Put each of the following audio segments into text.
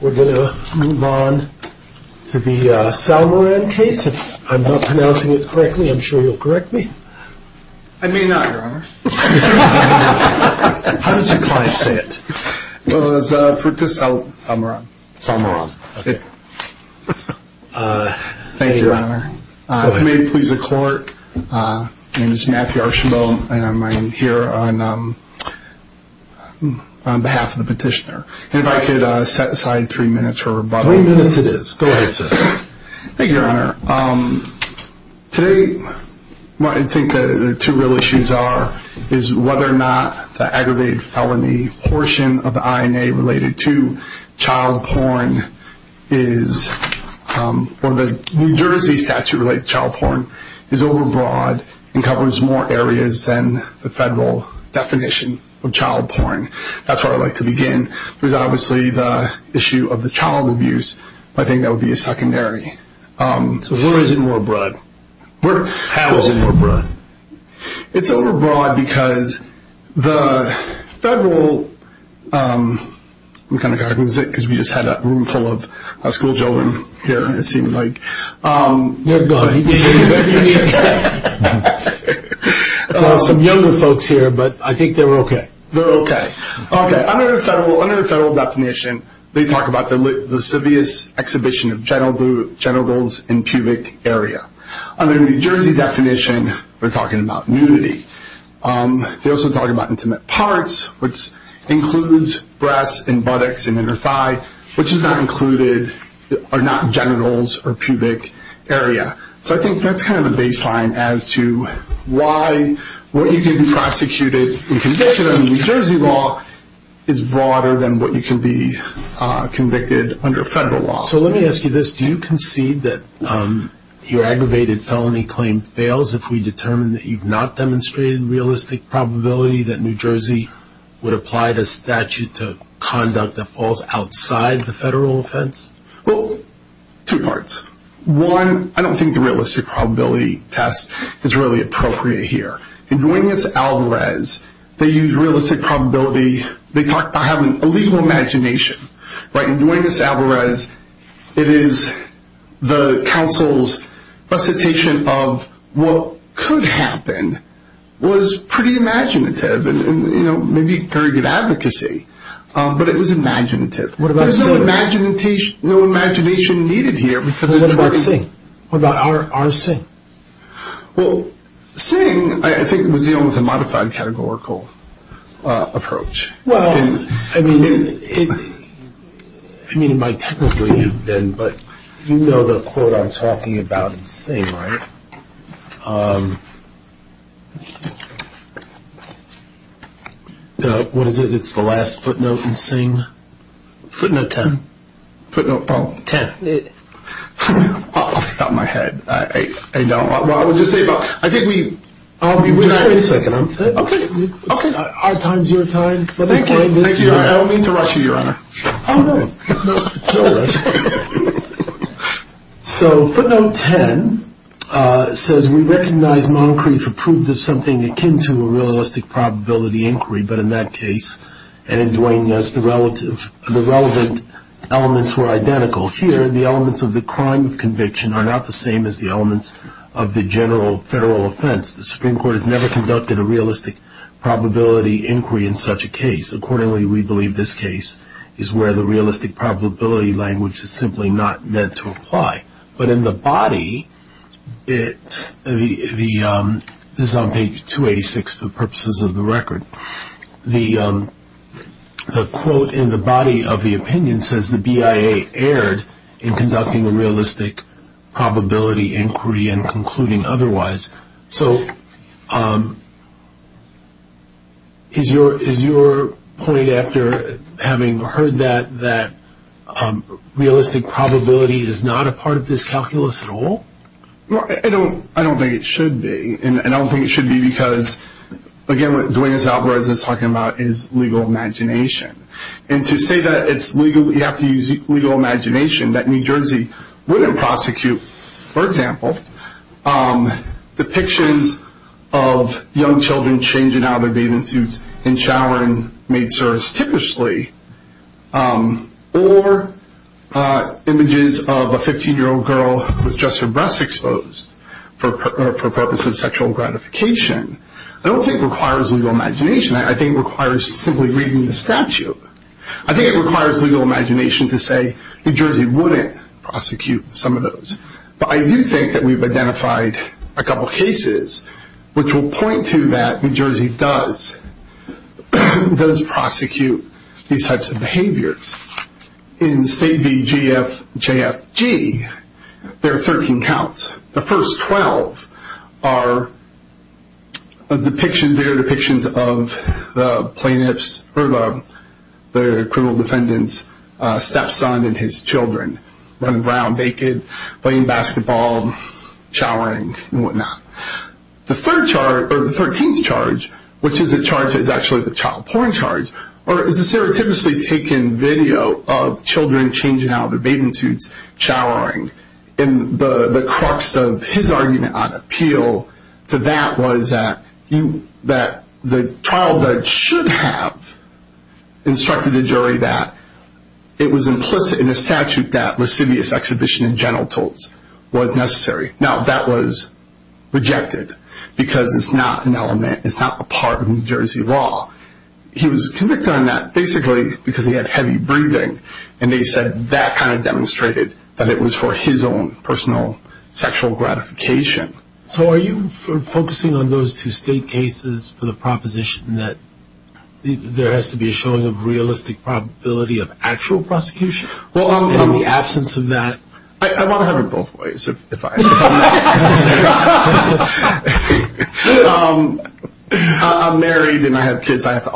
We're going to move on to the Salmoran case. If I'm not pronouncing it correctly, I'm sure you'll correct me. I may not, Your Honor. How does your client say it? Frutis Salmoran. Salmoran. Thank you, Your Honor. If you may please accord, my name is Matthew Archambault and I'm here on behalf of the petitioner. And if I could set aside three minutes for rebuttal. Three minutes it is. Go ahead, sir. Thank you, Your Honor. Today, what I think the two real issues are is whether or not the aggravated felony portion of the INA related to child porn is, or the New Jersey statute related to child porn, is overbroad and covers more areas than the federal definition of child porn. That's where I'd like to begin. There's obviously the issue of the child abuse. I think that would be a secondary. So where is it more broad? How is it more broad? It's overbroad because the federal, we kind of got to lose it because we just had a room full of school children here, it seemed like. They're gone. What do you need to say? There are some younger folks here, but I think they're okay. They're okay. Under the federal definition, they talk about the sevious exhibition of genitals and pubic area. Under the New Jersey definition, we're talking about nudity. They also talk about intimate parts, which includes breasts and buttocks and inner thigh, which is not included, are not genitals or pubic area. So I think that's kind of the baseline as to why what you can be prosecuted and convicted under New Jersey law is broader than what you can be convicted under federal law. So let me ask you this. Do you concede that your aggravated felony claim fails if we determine that you've not demonstrated realistic probability that New Jersey would apply the statute to conduct a false outside the federal offense? Well, two parts. One, I don't think the realistic probability test is really appropriate here. In Duenas-Alvarez, they use realistic probability. They talk about having a legal imagination, right? In Duenas-Alvarez, it is the counsel's recitation of what could happen was pretty imaginative and maybe very good advocacy, but it was imaginative. There's no imagination needed here. What about Singh? What about R. Singh? Well, Singh, I think, was dealing with a modified categorical approach. Well, I mean, it might technically have been, but you know the quote I'm talking about in Singh, right? What is it? It's the last footnote in Singh? Footnote 10. Footnote 10. Off the top of my head. I know. Well, I would just say, I think we... Just wait a second. Okay. Our time is your time. Thank you. I don't mean to rush you, Your Honor. Oh, no. It's no rush. So footnote 10 says, We recognize Moncrief approved of something akin to a realistic probability inquiry, but in that case, and in Duenas, the relevant elements were identical. Here, the elements of the crime of conviction are not the same as the elements of the general federal offense. The Supreme Court has never conducted a realistic probability inquiry in such a case. Accordingly, we believe this case is where the realistic probability language is simply not meant to apply. But in the body, this is on page 286 for the purposes of the record, the quote in the body of the opinion says the BIA erred in conducting a realistic probability inquiry and concluding otherwise. So is your point after having heard that that realistic probability is not a part of this calculus at all? I don't think it should be. And I don't think it should be because, again, what Duenas Alvarez is talking about is legal imagination. And to say that it's legal, you have to use legal imagination, that New Jersey wouldn't prosecute, for example, depictions of young children changing out of their bathing suits and showering, maid service, typically, or images of a 15-year-old girl with just her breasts exposed for purposes of sexual gratification, I don't think requires legal imagination. I think it requires simply reading the statute. I think it requires legal imagination to say New Jersey wouldn't prosecute some of those. But I do think that we've identified a couple cases which will point to that New Jersey does prosecute these types of behaviors. In State v. GFJFG, there are 13 counts. The first 12 are depictions, depictions of the plaintiff's or the criminal defendant's stepson and his children running around naked, playing basketball, showering, and whatnot. The third charge, or the 13th charge, which is a charge that's actually the child porn charge, is a stereotypically taken video of children changing out of their bathing suits, showering. The crux of his argument on appeal to that was that the trial judge should have instructed the jury that it was implicit in the statute that lascivious exhibition in general was necessary. Now, that was rejected because it's not an element, it's not a part of New Jersey law. He was convicted on that basically because he had heavy breathing, and they said that kind of demonstrated that it was for his own personal sexual gratification. So are you focusing on those two State cases for the proposition that there has to be a showing of realistic probability of actual prosecution? In the absence of that... I want to have it both ways, if I may. I'm married and I have kids. I have to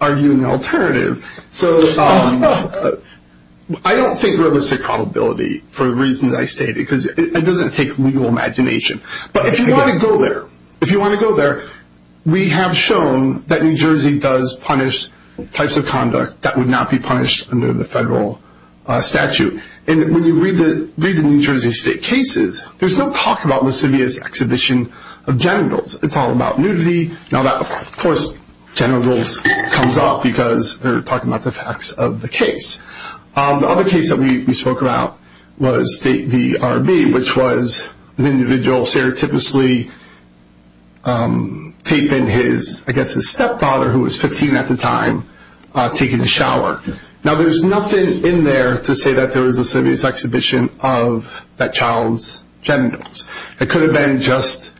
argue an alternative. So I don't think realistic probability, for the reasons I stated, because it doesn't take legal imagination. But if you want to go there, if you want to go there, we have shown that New Jersey does punish types of conduct that would not be punished under the federal statute. And when you read the New Jersey State cases, there's no talk about lascivious exhibition of genitals. It's all about nudity. Now, of course, genitals comes up because they're talking about the facts of the case. The other case that we spoke about was State v. R.B., which was an individual serotypically taping his, I guess, his stepdaughter, who was 15 at the time, taking a shower. Now, there's nothing in there to say that there was a lascivious exhibition of that child's genitals. It could have been just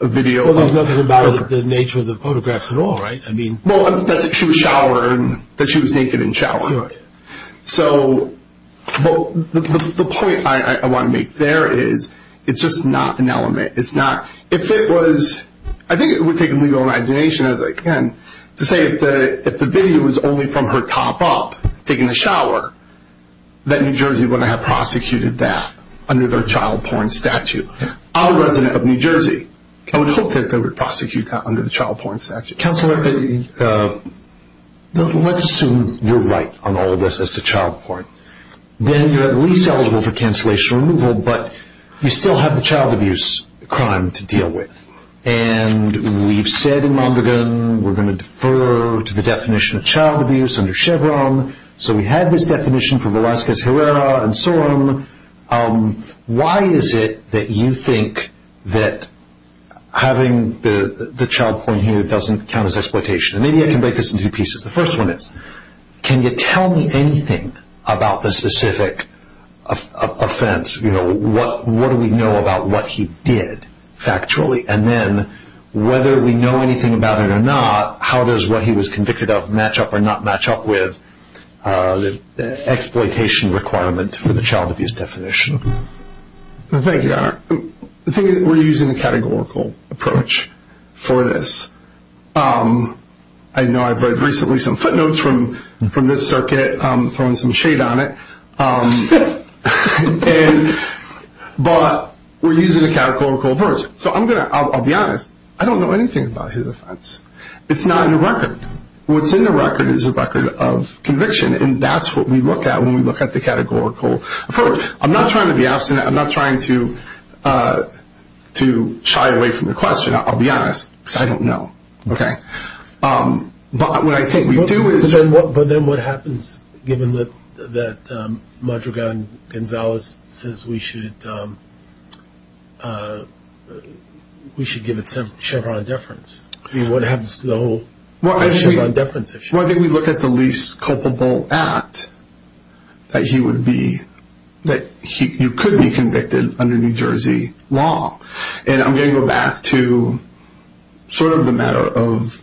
a video. Well, there's nothing about the nature of the photographs at all, right? Well, that's if she was showered, that she was naked and showered. So the point I want to make there is it's just not an element. It's not. If it was, I think it would take legal imagination, as I can, to say if the video was only from her top up taking a shower, that New Jersey would have prosecuted that under their child porn statute. I'm a resident of New Jersey. I would hope that they would prosecute that under the child porn statute. Counselor, let's assume you're right on all of this as to child porn. Then you're at least eligible for cancellation removal, but you still have the child abuse crime to deal with. And we've said in Mondragon we're going to defer to the definition of child abuse under Chevron. So we had this definition for Velazquez Herrera and so on. Why is it that you think that having the child porn here doesn't count as exploitation? Maybe I can break this into two pieces. The first one is, can you tell me anything about the specific offense? What do we know about what he did factually? And then, whether we know anything about it or not, how does what he was convicted of match up or not match up with the exploitation requirement for the child abuse definition? Thank you, Donner. I think we're using a categorical approach for this. I know I've read recently some footnotes from this circuit, throwing some shade on it. But we're using a categorical approach. I'll be honest, I don't know anything about his offense. It's not in the record. What's in the record is a record of conviction, and that's what we look at when we look at the categorical approach. I'm not trying to be abstinent. I'm not trying to shy away from the question. I'll be honest, because I don't know. But what I think we do is... But then what happens given that Madrigal Gonzalez says we should give it Chevron deference? I mean, what happens to the whole Chevron deference issue? Well, I think we look at the least culpable act that you could be convicted under New Jersey law. And I'm going to go back to sort of the matter of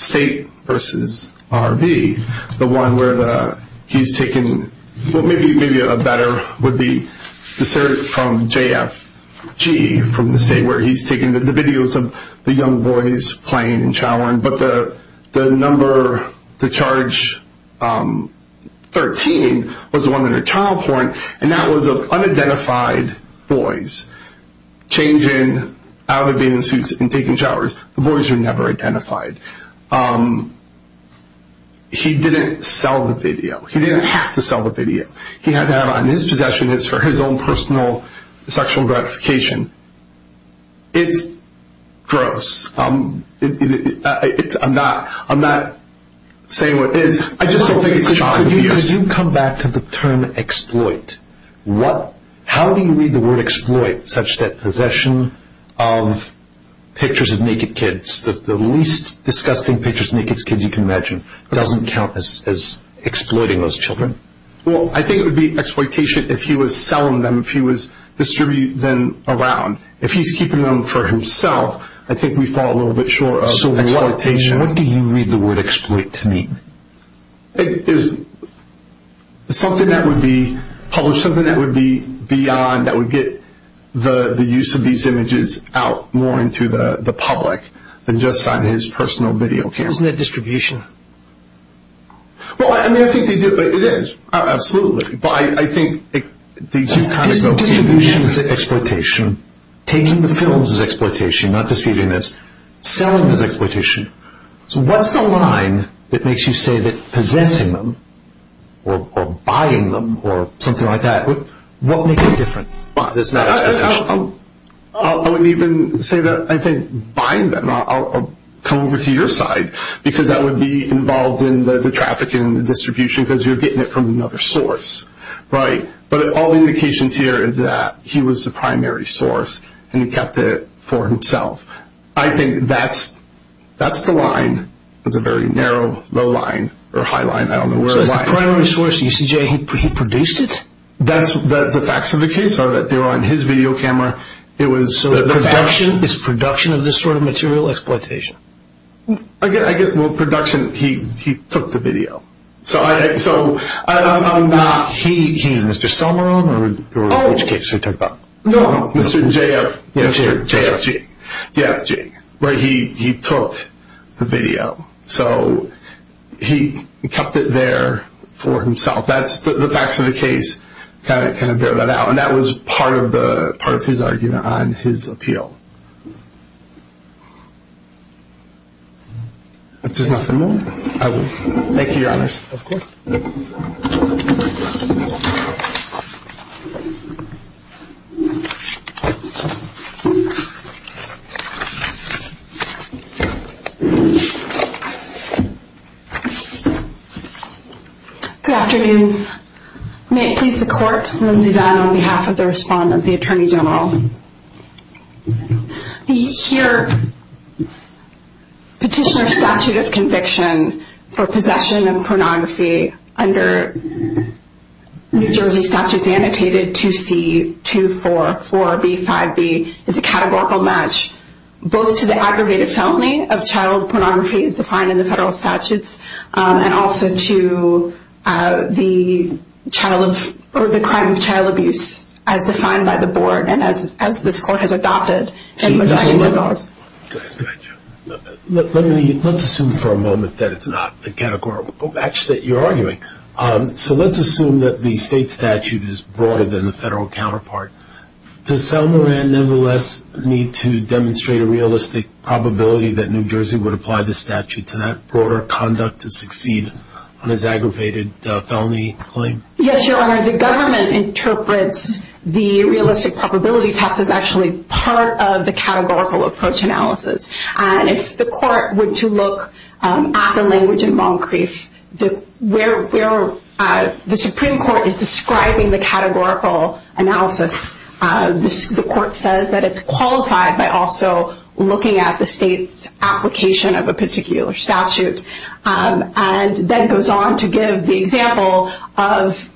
state versus RV, the one where he's taken... Well, maybe a better would be the circuit from JFG, from the state, where he's taken the videos of the young boys playing and showering. But the number, the charge 13, was the one in the child court, and that was of unidentified boys changing out of their bathing suits and taking showers. The boys were never identified. He didn't sell the video. He didn't have to sell the video. He had to have it on his possession. It's for his own personal sexual gratification. It's gross. I'm not saying what it is. I just don't think it's shocking to me. Could you come back to the term exploit? How do you read the word exploit such that possession of pictures of naked kids, the least disgusting pictures of naked kids you can imagine, doesn't count as exploiting those children? Well, I think it would be exploitation if he was selling them, if he was distributing them around. If he's keeping them for himself, I think we fall a little bit short of exploitation. So what do you read the word exploit to mean? It's something that would be published, something that would be beyond, that would get the use of these images out more into the public than just on his personal video camera. Isn't that distribution? Well, I mean, I think they do, but it is, absolutely. Distribution is exploitation. Taking the films is exploitation, not distributing them. Selling them is exploitation. So what's the line that makes you say that possessing them or buying them or something like that, what makes it different? I wouldn't even say that. I think buying them, I'll come over to your side, because that would be involved in the trafficking and the distribution because you're getting it from another source, right? But all the indications here is that he was the primary source and he kept it for himself. I think that's the line. It's a very narrow, low line, or high line, I don't know where the line is. So as the primary source, you see Jay, he produced it? The facts of the case are that they were on his video camera. So it's production of this sort of material exploitation? Well, production, he took the video. So I'm not he. You mean Mr. Silmarone or which case are you talking about? No, no, Mr. JFG, where he took the video. So he kept it there for himself. The facts of the case kind of bear that out, and that was part of his argument on his appeal. If there's nothing more, I will thank you, Your Honor. Of course. Good afternoon. May it please the Court, Lindsay Dunn on behalf of the respondent, the Attorney General. Here, Petitioner's Statute of Conviction for Possession of Pornography under New Jersey Statutes Annotated 2C244B5B is a categorical match both to the aggravated felony of child pornography as defined in the federal statutes and also to the crime of child abuse as defined by the board and as this Court has adopted. Let's assume for a moment that it's not a categorical match that you're arguing. So let's assume that the state statute is broader than the federal counterpart. Does Sal Moran nevertheless need to demonstrate a realistic probability that New Jersey would apply the statute to that broader conduct to succeed on his aggravated felony claim? Yes, Your Honor. The government interprets the realistic probability test as actually part of the categorical approach analysis. If the Court were to look at the language in Moncrief, where the Supreme Court is describing the categorical analysis, the Court says that it's qualified by also looking at the state's application of a particular statute and then goes on to give the example of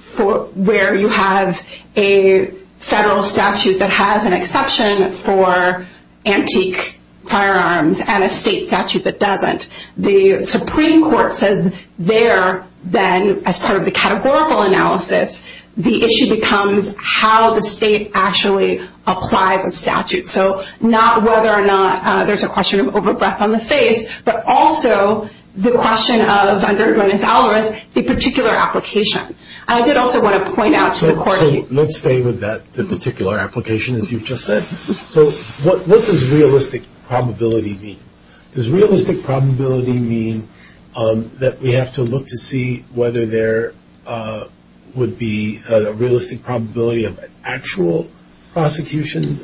where you have a federal statute that has an exception for antique firearms and a state statute that doesn't. The Supreme Court says there, then, as part of the categorical analysis, the issue becomes how the state actually applies a statute. So not whether or not there's a question of over-breath on the face, but also the question of, under Gwyneth's alibis, the particular application. I did also want to point out to the Court. So let's stay with that, the particular application, as you've just said. So what does realistic probability mean? Does realistic probability mean that we have to look to see whether there would be a realistic probability of an actual prosecution?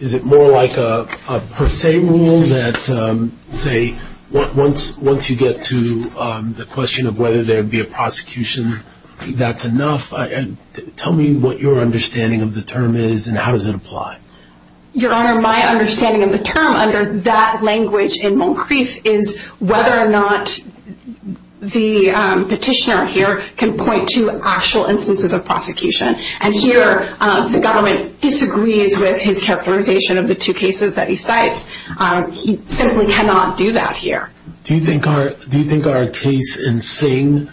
Is it more like a per se rule that, say, once you get to the question of whether there would be a prosecution, that's enough? Tell me what your understanding of the term is and how does it apply. Your Honor, my understanding of the term under that language in Moncrief is whether or not the petitioner here can point to actual instances of prosecution. And here the government disagrees with his characterization of the two cases that he cites. He simply cannot do that here. Do you think our case in Singh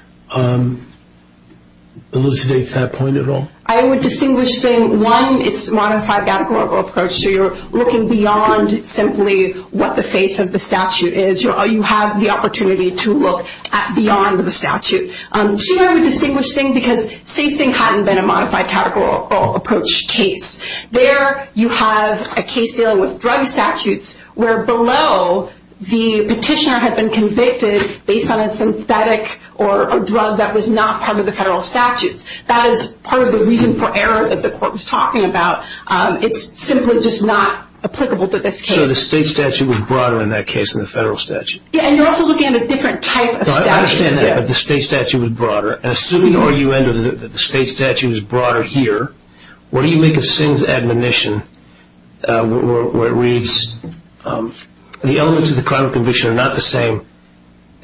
elucidates that point at all? I would distinguish saying, one, it's a modified categorical approach. So you're looking beyond simply what the face of the statute is. You have the opportunity to look beyond the statute. Two, I would distinguish Singh because say Singh hadn't been a modified categorical approach case. There you have a case dealing with drug statutes where below the petitioner had been convicted based on a synthetic or a drug that was not part of the federal statutes. That is part of the reason for error that the Court was talking about. It's simply just not applicable to this case. So the state statute was broader in that case than the federal statute. And you're also looking at a different type of statute. I understand that, but the state statute was broader. Assuming the state statute was broader here, what do you make of Singh's admonition where it reads, the elements of the crime of conviction are not the same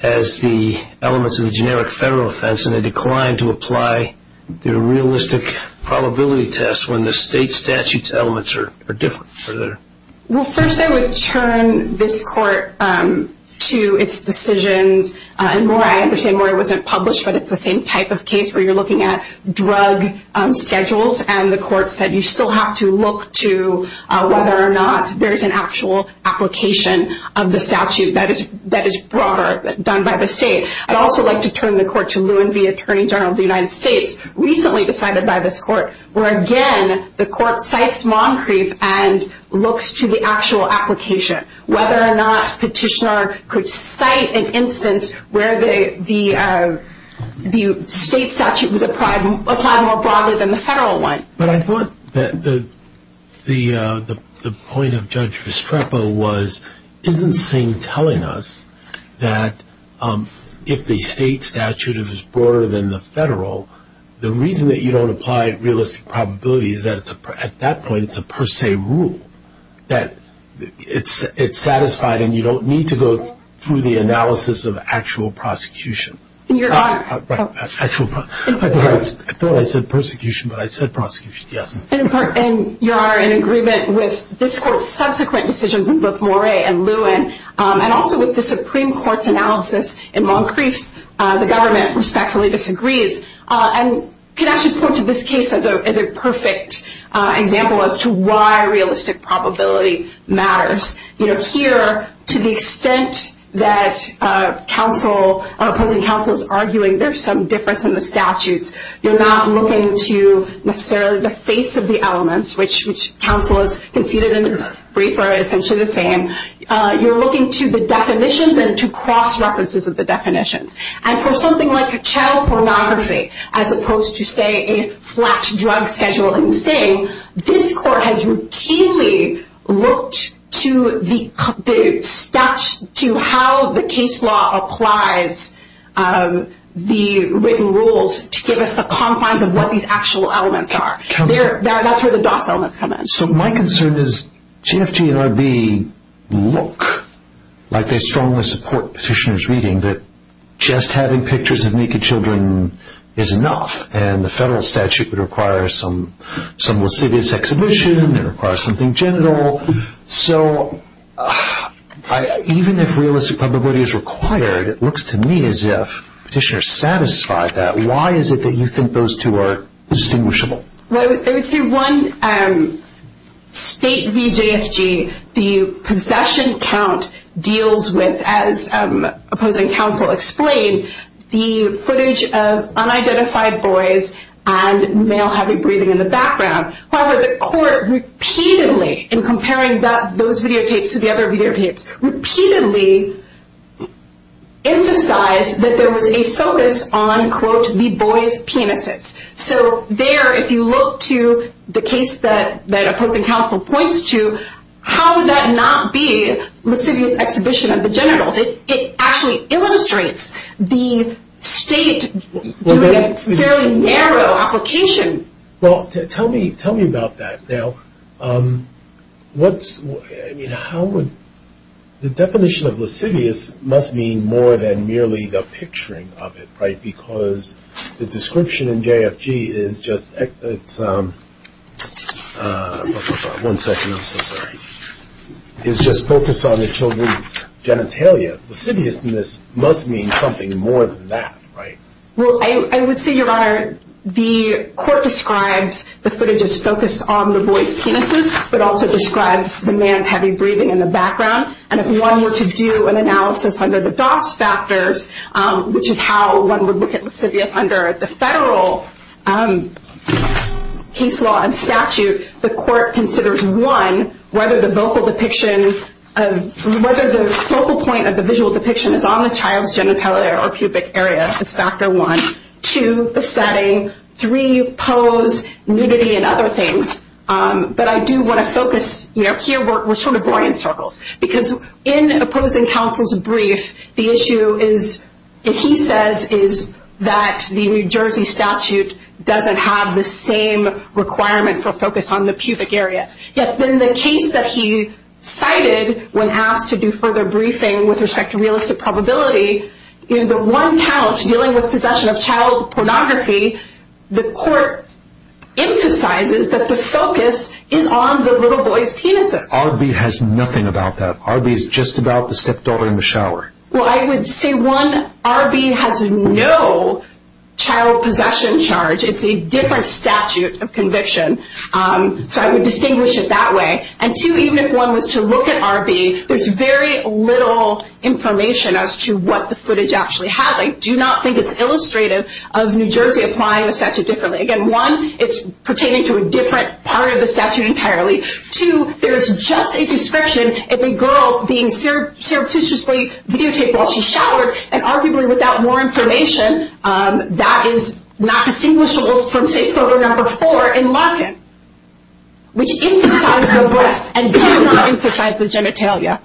as the elements of the generic federal offense and they decline to apply the realistic probability test when the state statute's elements are different? Well, first I would turn this Court to its decisions. And Maura, I understand Maura wasn't published, but it's the same type of case where you're looking at drug schedules and the Court said you still have to look to whether or not there's an actual application of the statute that is broader, done by the state. I'd also like to turn the Court to Lewin v. Attorney General of the United States, recently decided by this Court, where again the Court cites Moncrief and looks to the actual application, whether or not Petitioner could cite an instance where the state statute was applied more broadly than the federal one. But I thought the point of Judge Vestrepo was, isn't Singh telling us that if the state statute is broader than the federal, the reason that you don't apply realistic probability is that at that point it's a per se rule, that it's satisfied and you don't need to go through the analysis of actual prosecution. I thought I said persecution, but I said prosecution, yes. And, Your Honor, in agreement with this Court's subsequent decisions in both Maura and Lewin, and also with the Supreme Court's analysis in Moncrief, the government respectfully disagrees, and could actually point to this case as a perfect example as to why realistic probability matters. Here, to the extent that opposing counsel is arguing there's some difference in the statutes, you're not looking to necessarily the face of the elements, which counsel has conceded in this brief are essentially the same. You're looking to the definitions and to cross-references of the definitions. And for something like a child pornography, as opposed to, say, a flat drug schedule in Singh, this Court has routinely looked to how the case law applies the written rules to give us the confines of what these actual elements are. That's where the DOS elements come in. So my concern is GFG and RB look like they strongly support Petitioner's reading that just having pictures of naked children is enough, and the federal statute would require some lascivious exhibition. It would require something genital. So even if realistic probability is required, it looks to me as if Petitioner satisfied that. Why is it that you think those two are distinguishable? Well, I would say one state v. GFG, the possession count deals with, as opposing counsel explained, the footage of unidentified boys and male heavy breathing in the background. However, the Court repeatedly, in comparing those videotapes to the other videotapes, repeatedly emphasized that there was a focus on, quote, the boys' penises. So there, if you look to the case that opposing counsel points to, how would that not be lascivious exhibition of the genitals? It actually illustrates the state doing a fairly narrow application. Well, tell me about that. Now, the definition of lascivious must mean more than merely the picturing of it, right? Because the description in GFG is just focused on the children's genitalia. Lasciviousness must mean something more than that, right? Well, I would say, Your Honor, the Court describes the footage as focused on the boys' penises, but also describes the man's heavy breathing in the background. And if one were to do an analysis under the DOS factors, which is how one would look at lascivious under the federal case law and statute, the Court considers, one, whether the focal point of the visual depiction is on the child's genitalia or pubic area as factor one. Two, the setting. Three, pose, nudity, and other things. But I do want to focus, you know, here we're sort of boring in circles. Because in opposing counsel's brief, the issue is, he says, is that the New Jersey statute doesn't have the same requirement for focus on the pubic area. Yet in the case that he cited when asked to do further briefing with respect to realistic probability, in the one couch dealing with possession of child pornography, the Court emphasizes that the focus is on the little boy's penises. But R.B. has nothing about that. R.B. is just about the stepdaughter in the shower. Well, I would say, one, R.B. has no child possession charge. It's a different statute of conviction. So I would distinguish it that way. And two, even if one was to look at R.B., there's very little information as to what the footage actually has. I do not think it's illustrative of New Jersey applying the statute differently. Again, one, it's pertaining to a different part of the statute entirely. Two, there's just a description of a girl being surreptitiously videotaped while she showered. And arguably, without more information, that is not distinguishable from, say, photo number four in Larkin, which emphasized the breasts and did not emphasize the genitalia.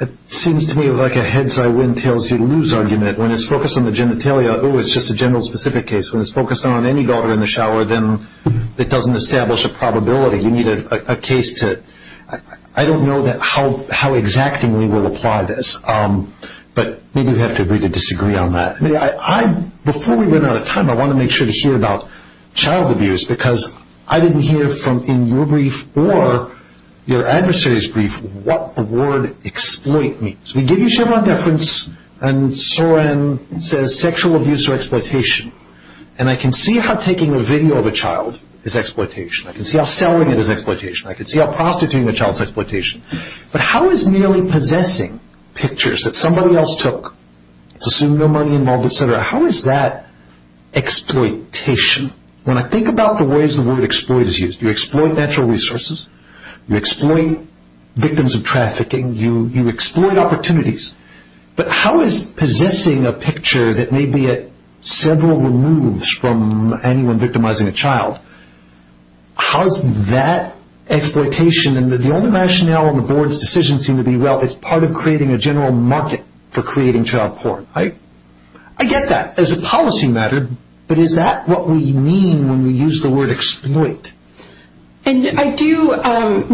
It seems to me like a heads-high-wind-tails-you-lose argument. When it's focused on the genitalia, oh, it's just a general specific case. When it's focused on any daughter in the shower, then it doesn't establish a probability. You need a case to – I don't know how exactly we will apply this. But maybe we have to agree to disagree on that. Before we run out of time, I want to make sure to hear about child abuse because I didn't hear from in your brief or your adversary's brief what the word exploit means. We give you Chevron deference and it says sexual abuse or exploitation. And I can see how taking a video of a child is exploitation. I can see how selling it is exploitation. I can see how prostituting a child is exploitation. But how is merely possessing pictures that somebody else took, assuming no money involved, et cetera, how is that exploitation? When I think about the ways the word exploit is used, you exploit natural resources. You exploit victims of trafficking. You exploit opportunities. But how is possessing a picture that may be at several removes from anyone victimizing a child, how is that exploitation? And the only rationale on the board's decision seemed to be, well, it's part of creating a general market for creating child porn. I get that as a policy matter, but is that what we mean when we use the word exploit? And I do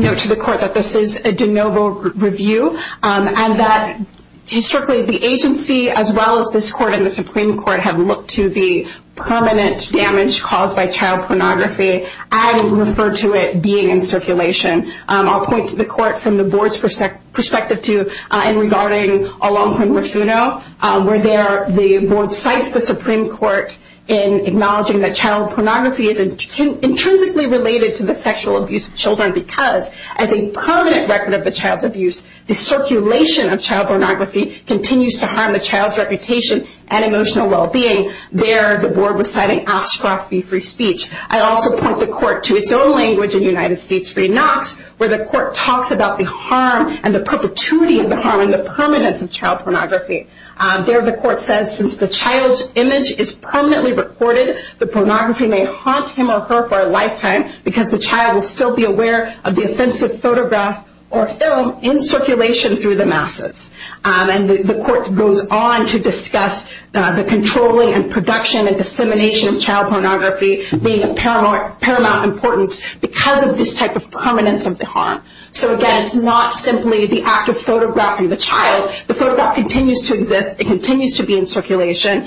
note to the court that this is a de novo review and that historically the agency as well as this court and the Supreme Court have looked to the permanent damage caused by child pornography. I would refer to it being in circulation. I'll point to the court from the board's perspective too, and regarding Alonquin-Rifudo, where the board cites the Supreme Court in acknowledging that child pornography is intrinsically related to the sexual abuse of children because as a permanent record of the child's abuse, the circulation of child pornography continues to harm the child's reputation and emotional well-being. There the board was citing Oskaroff v. Free Speech. I also point the court to its own language in United States v. Knox, where the court talks about the harm and the perpetuity of the harm and the permanence of child pornography. There the court says, since the child's image is permanently recorded, the pornography may haunt him or her for a lifetime because the child will still be aware of the offensive photograph or film in circulation through the masses. And the court goes on to discuss the controlling and production and dissemination of child pornography being of paramount importance because of this type of permanence of the harm. So again, it's not simply the act of photographing the child. The photograph continues to exist. It continues to be in circulation.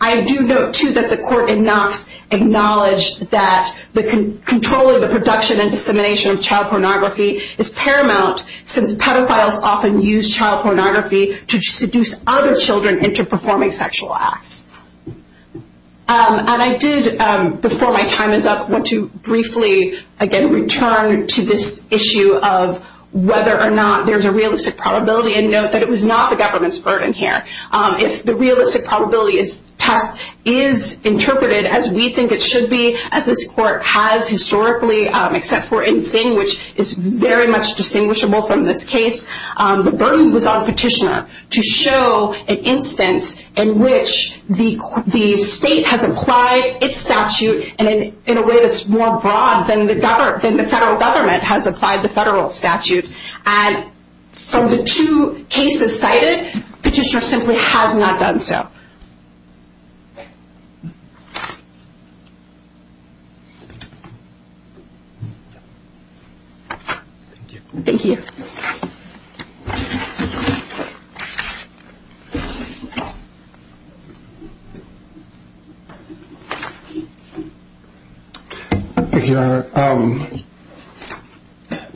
I do note, too, that the court in Knox acknowledged that the control of the production and dissemination of child pornography is paramount since pedophiles often use child pornography to seduce other children into performing sexual acts. And I did, before my time is up, want to briefly, again, return to this issue of whether or not there's a realistic probability and note that it was not the government's burden here. If the realistic probability test is interpreted as we think it should be, as this court has historically, except for in Sing, which is very much distinguishable from this case, the burden was on Petitioner to show an instance in which the state has applied its statute in a way that's more broad than the federal government has applied the federal statute. And from the two cases cited, Petitioner simply has not done so. Thank you. Thank you. Thank you, Your Honor.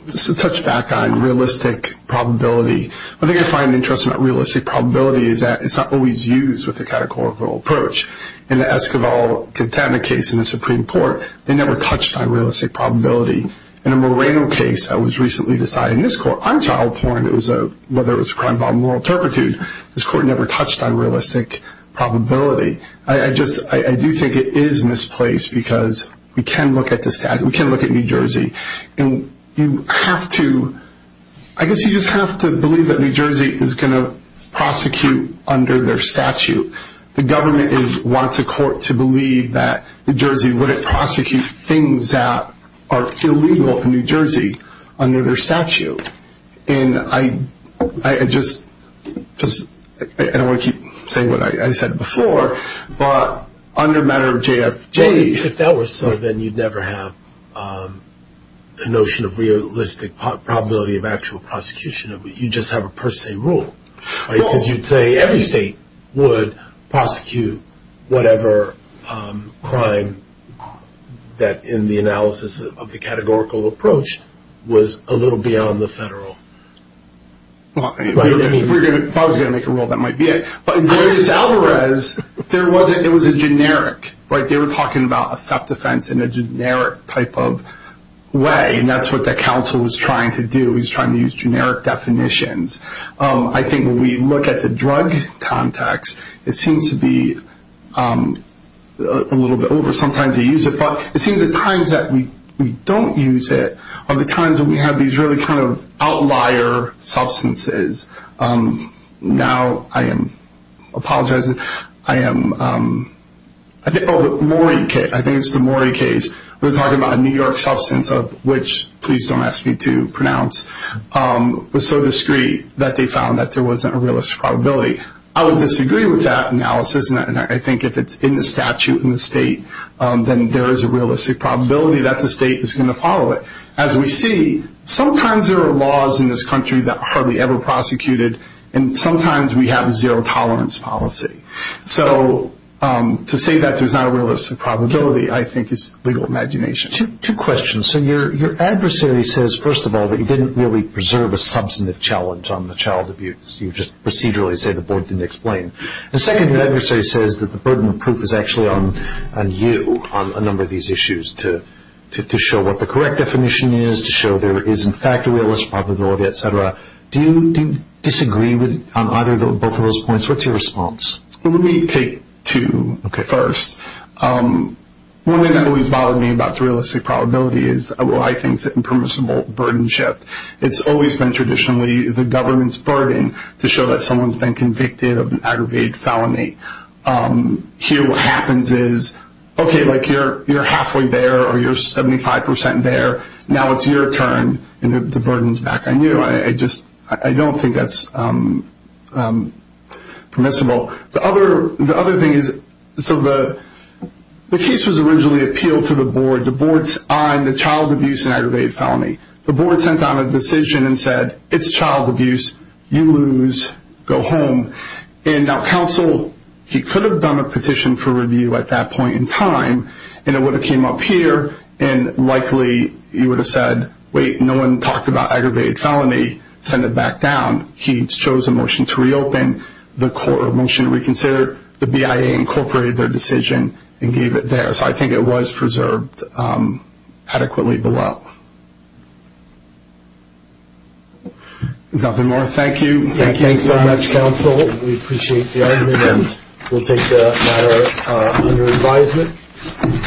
Just to touch back on realistic probability, one thing I find interesting about realistic probability is that it's not always used with a categorical approach. In the Esquivel-Katana case in the Supreme Court, they never touched on realistic probability. In a Moreno case that was recently decided in this court, on child porn, whether it was a crime of moral turpitude, this court never touched on realistic probability. I do think it is misplaced because we can look at New Jersey and I guess you just have to believe that New Jersey is going to prosecute under their statute. The government wants a court to believe that New Jersey wouldn't prosecute things that are illegal in New Jersey under their statute. And I don't want to keep saying what I said before, but under a matter of JFJ... the notion of realistic probability of actual prosecution, you just have a per se rule. Because you'd say every state would prosecute whatever crime that in the analysis of the categorical approach was a little beyond the federal. If I was going to make a rule, that might be it. But in Goyes-Alvarez, it was a generic. They were talking about a theft offense in a generic type of way. And that's what the counsel was trying to do. He was trying to use generic definitions. I think when we look at the drug context, it seems to be a little bit over. Sometimes they use it, but it seems at times that we don't use it are the times that we have these really kind of outlier substances. Now I am apologizing. I think it's the Maury case. They're talking about a New York substance of which, please don't ask me to pronounce, was so discreet that they found that there wasn't a realistic probability. I would disagree with that analysis. And I think if it's in the statute in the state, then there is a realistic probability that the state is going to follow it. As we see, sometimes there are laws in this country that are hardly ever prosecuted, and sometimes we have a zero tolerance policy. So to say that there's not a realistic probability, I think, is legal imagination. Two questions. So your adversary says, first of all, that you didn't really preserve a substantive challenge on the child abuse. You just procedurally say the board didn't explain. And second, your adversary says that the burden of proof is actually on you on a number of these issues to show what the correct definition is, to show there is, in fact, a realistic probability, et cetera. Do you disagree on either or both of those points? What's your response? Well, let me take two first. One thing that always bothered me about the realistic probability is what I think is impermissible burdenship. It's always been traditionally the government's burden to show that someone's been convicted of an aggravated felony. Here what happens is, okay, like you're halfway there or you're 75% there. Now it's your turn, and the burden's back on you. I don't think that's permissible. The other thing is, so the case was originally appealed to the board. The board's on the child abuse and aggravated felony. The board sent out a decision and said, it's child abuse. You lose. Go home. And now counsel, he could have done a petition for review at that point in time, and it would have came up here, and likely he would have said, wait, no one talked about aggravated felony. Send it back down. He chose a motion to reopen. The motion reconsidered. The BIA incorporated their decision and gave it there. So I think it was preserved adequately below. Nothing more. Thank you. Thanks so much, counsel. We appreciate the argument. We'll take the matter under advisement.